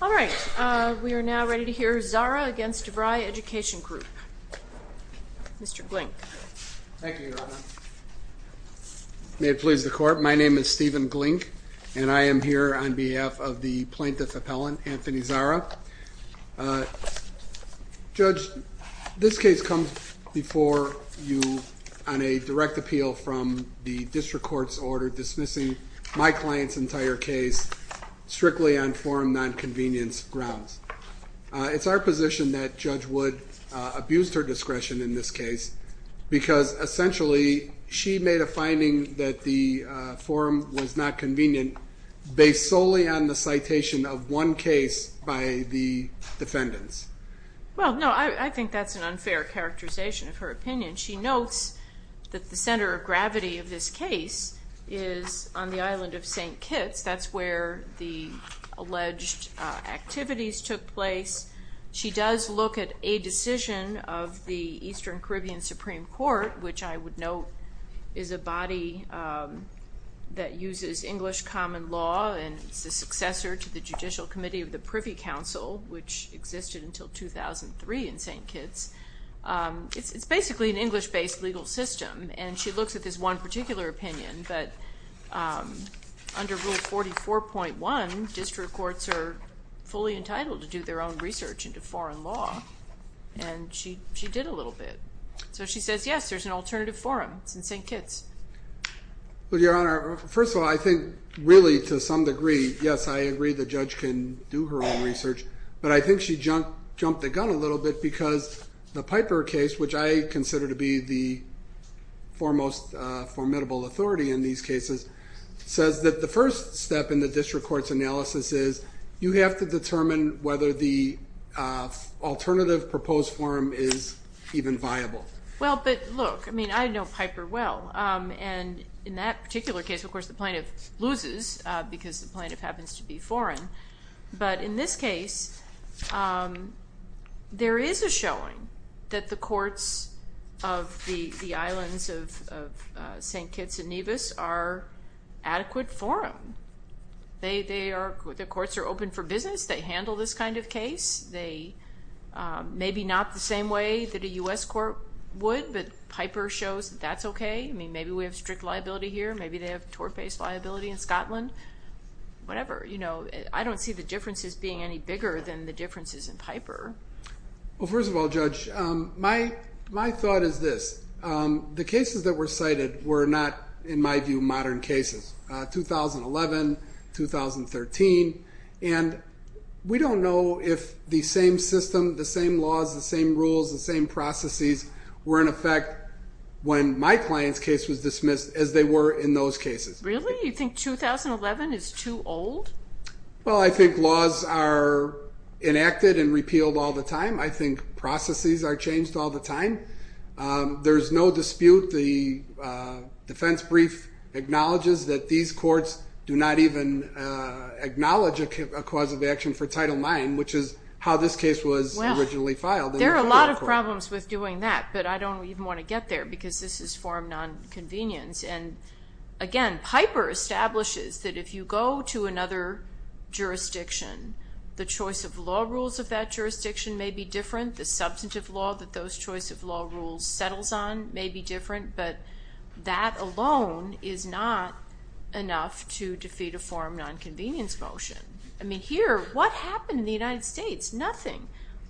All right, we are now ready to hear Zara v. DeVry Education Group. Mr. Glink. Thank you, Your Honor. May it please the Court. My name is Stephen Glink, and I am here on behalf of the plaintiff appellant, Anthony Zara. Judge, this case comes before you on a direct appeal from the district court's order dismissing my client's entire case strictly on forum nonconvenience grounds. It's our position that Judge Wood abused her discretion in this case because essentially she made a finding that the forum was not convenient based solely on the citation of one case by the defendants. Well, no, I think that's an unfair characterization of her opinion. She notes that the center of gravity of this case is on the island of St. Kitts. That's where the alleged activities took place. She does look at a decision of the Eastern Caribbean Supreme Court, which I would note is a body that uses English common law and is the successor to the Judicial Committee of the Privy Council, which existed until 2003 in St. Kitts. It's basically an English-based legal system. And she looks at this one particular opinion, but under Rule 44.1, district courts are fully open to research into foreign law, and she did a little bit. So she says, yes, there's an alternative forum in St. Kitts. Well, Your Honor, first of all, I think really to some degree, yes, I agree the judge can do her own research, but I think she jumped the gun a little bit because the Piper case, which I consider to be the foremost formidable authority in these cases, says that the first step in the district court's analysis is you have to determine whether the alternative proposed forum is even viable. Well, but look, I mean, I know Piper well, and in that particular case, of course, the plaintiff loses because the plaintiff happens to be foreign. But in this case, there is a showing that the courts of the islands of St. Kitts and They are, the courts are open for business. They handle this kind of case. They, maybe not the same way that a U.S. court would, but Piper shows that that's okay. I mean, maybe we have strict liability here. Maybe they have tort-based liability in Scotland, whatever, you know, I don't see the differences being any bigger than the differences in Piper. Well, first of all, Judge, my thought is this. The cases that were cited were not, in my view, modern cases. 2011, 2013, and we don't know if the same system, the same laws, the same rules, the same processes were in effect when my client's case was dismissed as they were in those cases. Really? You think 2011 is too old? Well, I think laws are enacted and repealed all the time. I think processes are changed all the time. There's no dispute. The defense brief acknowledges that these courts do not even acknowledge a cause of action for Title IX, which is how this case was originally filed. There are a lot of problems with doing that, but I don't even want to get there because this is for non-convenience, and again, Piper establishes that if you go to another jurisdiction, the choice of law rules of that jurisdiction may be different. The substantive law that those choice of law rules settles on may be different, but that alone is not enough to defeat a form of non-convenience motion. I mean, here, what happened in the United States? Nothing.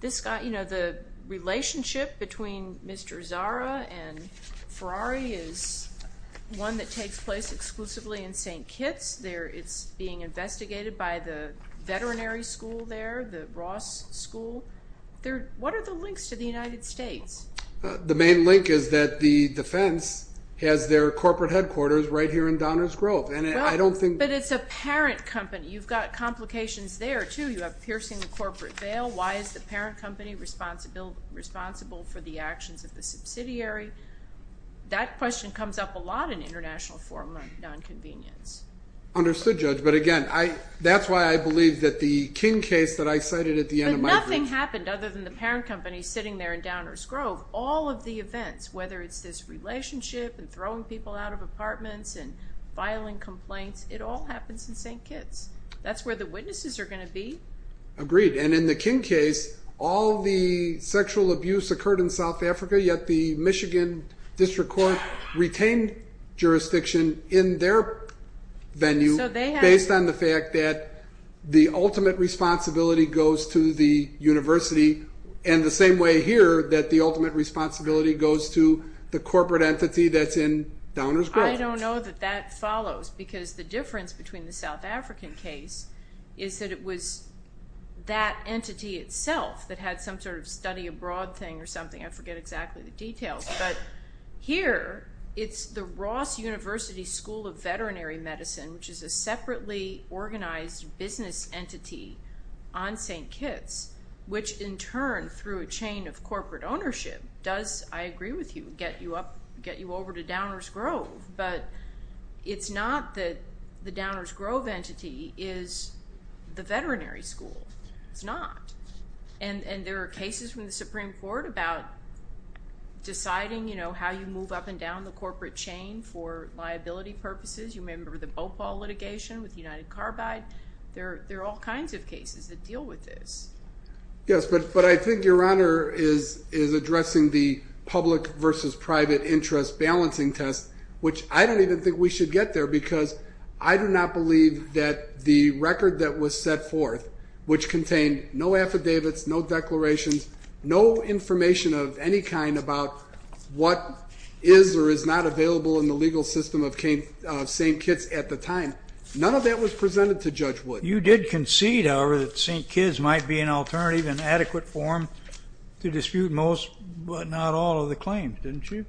This got, you know, the relationship between Mr. Zara and Ferrari is one that takes place exclusively in St. Kitts. It's being investigated by the veterinary school there, the Ross School. What are the links to the United States? The main link is that the defense has their corporate headquarters right here in Donner's Grove, and I don't think... But it's a parent company. You've got complications there, too. You have piercing the corporate veil. Why is the parent company responsible for the actions of the subsidiary? That question comes up a lot in international form of non-convenience. Understood, Judge, but again, that's why I believe that the King case that I cited at the end of my brief... But nothing happened other than the parent company sitting there in Donner's Grove. All of the events, whether it's this relationship and throwing people out of apartments and filing complaints, it all happens in St. Kitts. That's where the witnesses are going to be. Agreed, and in the King case, all the sexual abuse occurred in South Africa, yet the Michigan District Court retained jurisdiction in their venue based on the fact that the ultimate responsibility goes to the university, and the same way here, that the ultimate responsibility goes to the corporate entity that's in Donner's Grove. I don't know that that follows, because the difference between the South African case is that it was that entity itself that had some sort of study abroad thing or something. I forget exactly the details, but here, it's the Ross University School of Veterinary Medicine, which is a separately organized business entity on St. Kitts, which in turn, through a chain of corporate ownership, does, I agree with you, get you over to Donner's Grove, but it's not that the Donner's Grove entity is the veterinary school. It's not, and there are cases from the Supreme Court about deciding how you move up and down the corporate chain for liability purposes. You may remember the Bhopal litigation with United Carbide. There are all kinds of cases that deal with this. Yes, but I think Your Honor is addressing the public versus private interest balancing test, which I don't even think we should get there, because I do not believe that the record that was set forth, which contained no affidavits, no declarations, no information of any kind about what is or is not available in the legal system of St. Kitts at the time, none of that was presented to Judge Wood. You did concede, however, that St. Kitts might be an alternative and adequate form to dispute most but not all of the claims, didn't you?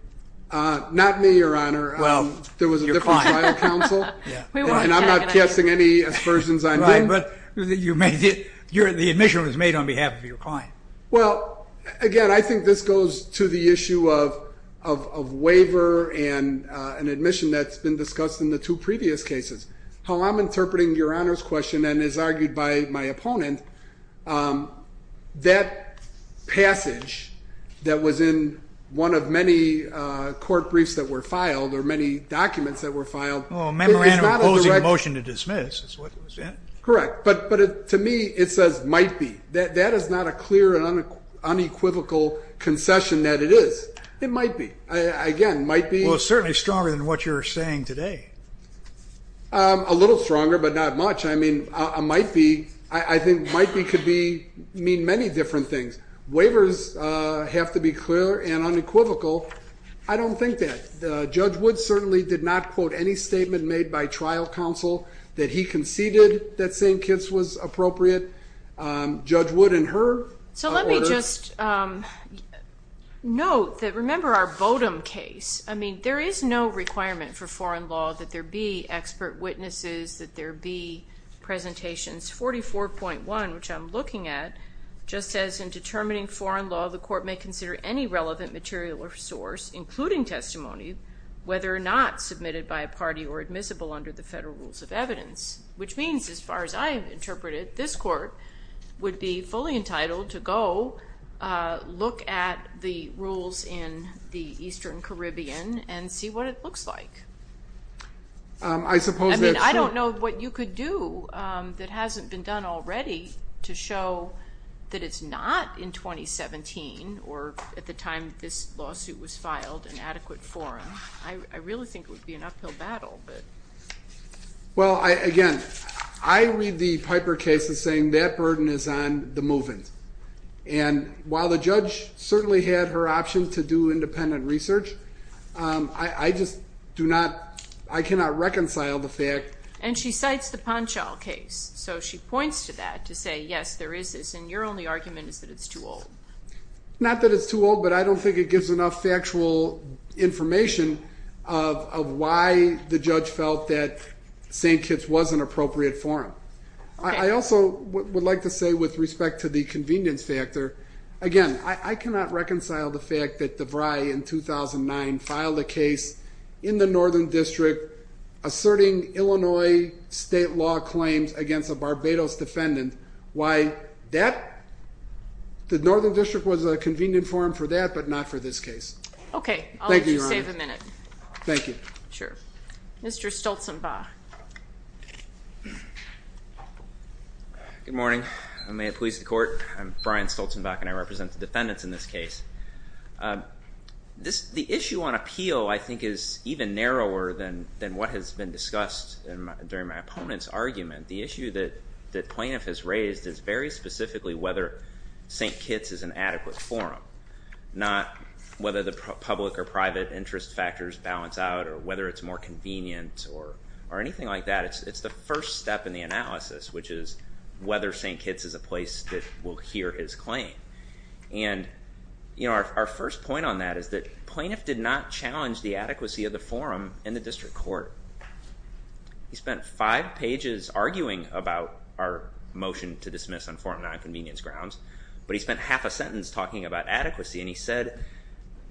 Not me, Your Honor. Well, your client. There was a different trial counsel, and I'm not casting any aspersions on them. Right, but the admission was made on behalf of your client. Well, again, I think this goes to the issue of waiver and an admission that's been discussed in the two previous cases. How I'm interpreting Your Honor's question, and as argued by my opponent, that passage that was in one of many court briefs that were filed or many documents that were filed Oh, a memorandum of closing motion to dismiss, is that what it was? Correct. But to me, it says might be. That is not a clear and unequivocal concession that it is. It might be. Again, might be. Well, it's certainly stronger than what you're saying today. A little stronger, but not much. I mean, a might be, I think might be could mean many different things. Waivers have to be clear and unequivocal. I don't think that. Judge Wood certainly did not quote any statement made by trial counsel that he conceded that Judge Wood and her. So let me just note that, remember our Bodum case, I mean, there is no requirement for foreign law that there be expert witnesses, that there be presentations. 44.1, which I'm looking at, just says in determining foreign law, the court may consider any relevant material or source, including testimony, whether or not submitted by a party or admissible under the federal rules of evidence. Which means, as far as I've interpreted, this court would be fully entitled to go look at the rules in the Eastern Caribbean and see what it looks like. I suppose that's true. I mean, I don't know what you could do that hasn't been done already to show that it's not in 2017 or at the time this lawsuit was filed, an adequate forum. I really think it would be an uphill battle, but. Well, again, I read the Piper case as saying that burden is on the move-ins. And while the judge certainly had her option to do independent research, I just do not, I cannot reconcile the fact. And she cites the Ponchal case. So she points to that to say, yes, there is this, and your only argument is that it's too old. Not that it's too old, but I don't think it gives enough factual information of why the judge felt that St. Kitts was an appropriate forum. I also would like to say, with respect to the convenience factor, again, I cannot reconcile the fact that DeVry, in 2009, filed a case in the Northern District asserting Illinois state law claims against a Barbados defendant. Why that, the Northern District was a convenient forum for that, but not for this case. Okay. Thank you, Your Honor. I'll let you save a minute. Thank you. Sure. Mr. Stoltenbach. Good morning. And may it please the court, I'm Brian Stoltenbach, and I represent the defendants in this case. The issue on appeal, I think, is even narrower than what has been discussed during my opponent's argument. The issue that plaintiff has raised is very specifically whether St. Kitts is an adequate forum, not whether the public or private interest factors balance out or whether it's more convenient or anything like that. It's the first step in the analysis, which is whether St. Kitts is a place that will hear his claim. And our first point on that is that plaintiff did not challenge the adequacy of the forum in the district court. He spent five pages arguing about our motion to dismiss on forum nonconvenience grounds, but he spent half a sentence talking about adequacy, and he said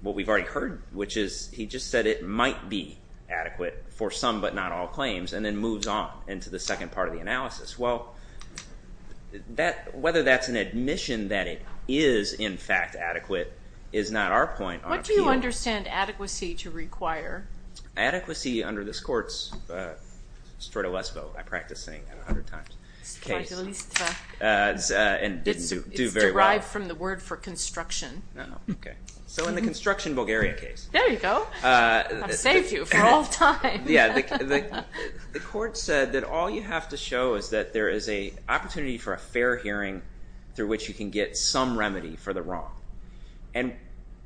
what we've already heard, which is he just said it might be adequate for some but not all claims, and then moves on into the second part of the analysis. Well, whether that's an admission that it is, in fact, adequate is not our point on appeal. What do you understand adequacy to require? Adequacy under this court's strata lesbo, I practice saying that a hundred times, case, at least, and didn't do very well. It's derived from the word for construction. So in the construction Bulgaria case. There you go. I've saved you for all time. The court said that all you have to show is that there is a opportunity for a fair hearing through which you can get some remedy for the wrong.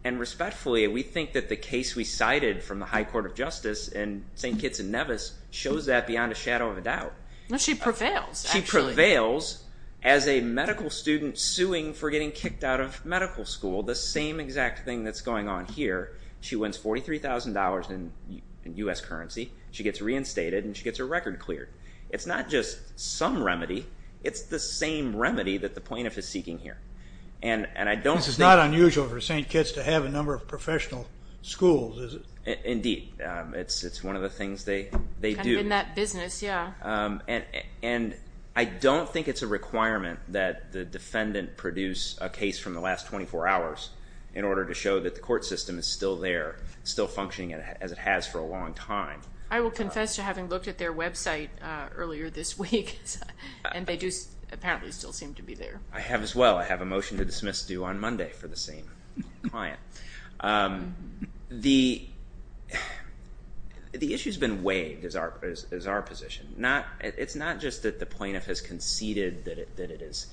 And respectfully, we think that the case we cited from the High Court of Justice in St. Kitts and Nevis shows that beyond a shadow of a doubt. She prevails, actually. She prevails as a medical student suing for getting kicked out of medical school. The same exact thing that's going on here. She wins $43,000 in U.S. currency. She gets reinstated and she gets her record cleared. It's not just some remedy. It's the same remedy that the plaintiff is seeking here. And I don't think- This is not unusual for St. Kitts to have a number of professional schools, is it? Indeed. It's one of the things they do. Kind of in that business, yeah. And I don't think it's a requirement that the defendant produce a case from the last 24 hours in order to show that the court system is still there, still functioning as it has for a long time. I will confess to having looked at their website earlier this week and they do apparently still seem to be there. I have as well. I have a motion to dismiss due on Monday for the same client. The issue's been weighed, is our position. It's not just that the plaintiff has conceded that it is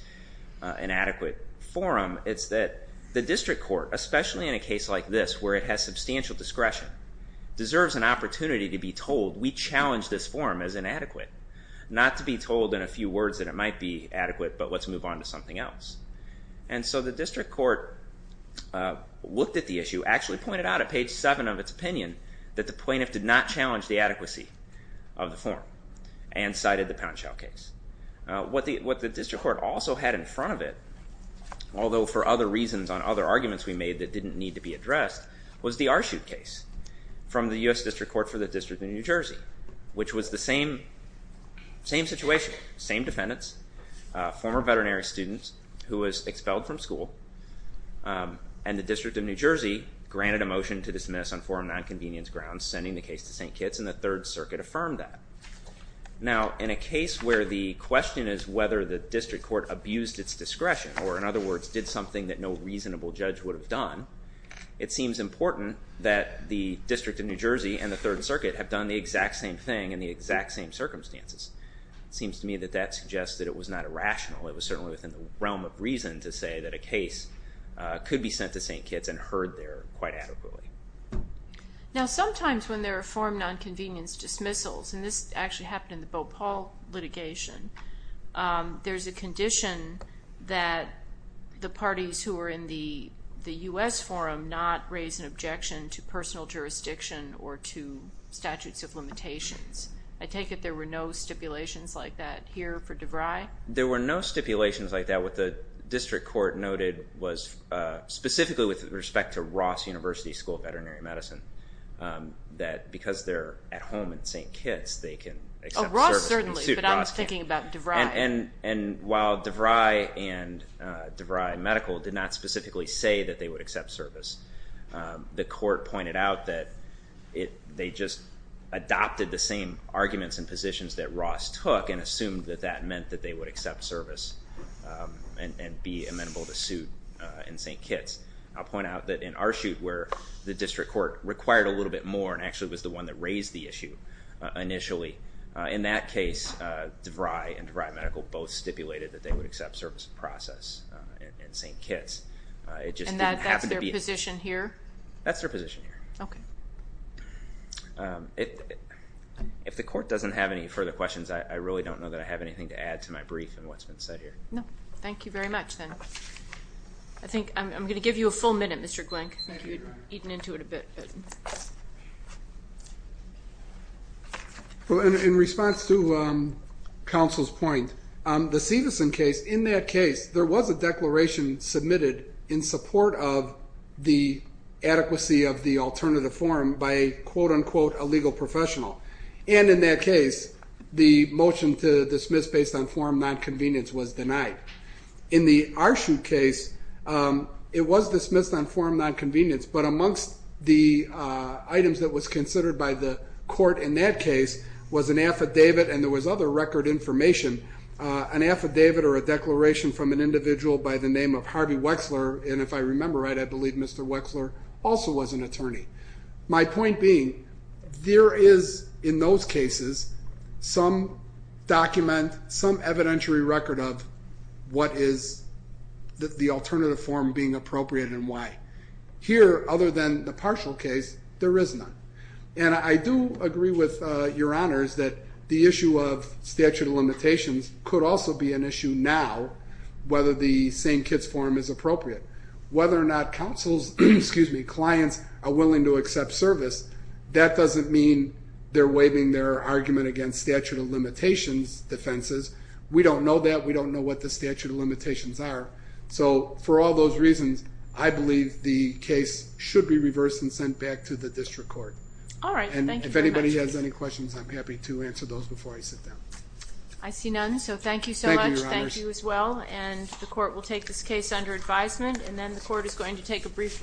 an adequate forum. It's that the district court, especially in a case like this where it has substantial discretion, deserves an opportunity to be told, we challenge this forum as inadequate. Not to be told in a few words that it might be adequate, but let's move on to something else. And so the district court looked at the issue, actually pointed out at page 7 of its opinion that the plaintiff did not challenge the adequacy of the forum and cited the Poundshell case. What the district court also had in front of it, although for other reasons on other arguments we made that didn't need to be addressed, was the Archute case from the U.S. District Court for the District of New Jersey, which was the same situation, same defendants, former veterinary students who was expelled from school, and the District of New Jersey granted a motion to dismiss on forum nonconvenience grounds, sending the case to St. Kitts, and the Third Circuit affirmed that. Now in a case where the question is whether the district court abused its discretion, or in other words, did something that no reasonable judge would have done, it seems important that the District of New Jersey and the Third Circuit have done the exact same thing in the exact same circumstances. Seems to me that that suggests that it was not irrational, it was certainly within the realm of reason to say that a case could be sent to St. Kitts and heard there quite adequately. Now sometimes when there are forum nonconvenience dismissals, and this actually happened in the Bhopal litigation, there's a condition that the parties who are in the U.S. forum not raise an objection to personal jurisdiction or to statutes of limitations. I take it there were no stipulations like that here for DeVry? There were no stipulations like that. What the district court noted was, specifically with respect to Ross University School of Veterinary Medicine, that because they're at home in St. Kitts, they can accept service in the suit of Ross. Oh, Ross certainly, but I'm thinking about DeVry. And while DeVry and DeVry Medical did not specifically say that they would accept service, the court pointed out that they just adopted the same arguments and positions that Ross took and assumed that that meant that they would accept service and be amenable to suit in St. Kitts. I'll point out that in our suit where the district court required a little bit more and actually was the one that raised the issue initially, in that case DeVry and DeVry Medical both stipulated that they would accept service in process in St. Kitts. And that's their position here? That's their position here. If the court doesn't have any further questions, I really don't know that I have anything to add to my brief and what's been said here. Thank you very much then. I think I'm going to give you a full minute, Mr. Glenk, you've eaten into it a bit. In response to counsel's point, the Stevenson case, in that case there was a declaration submitted in support of the adequacy of the alternative form by a quote-unquote a legal professional and in that case the motion to dismiss based on form nonconvenience was denied. In the Arshute case, it was dismissed on form nonconvenience but amongst the items that was considered by the court in that case was an affidavit and there was other record information, an affidavit or a declaration from an individual by the name of Harvey Wexler and if I remember right I believe Mr. Wexler also was an attorney. My point being, there is in those cases some document, some evidentiary record of what is the alternative form being appropriate and why. Here other than the partial case, there is none. I do agree with your honors that the issue of statute of limitations could also be an issue now whether the same-kids form is appropriate. Whether or not counsel's, excuse me, clients are willing to accept service, that doesn't mean they're waiving their argument against statute of limitations defenses. We don't know that. We don't know what the statute of limitations are so for all those reasons, I believe the district court. All right. Thank you very much. If anybody has any questions, I'm happy to answer those before I sit down. I see none. Thank you so much. Thank you, your honors. Thank you as well and the court will take this case under advisement and then the court is going to take a brief recess.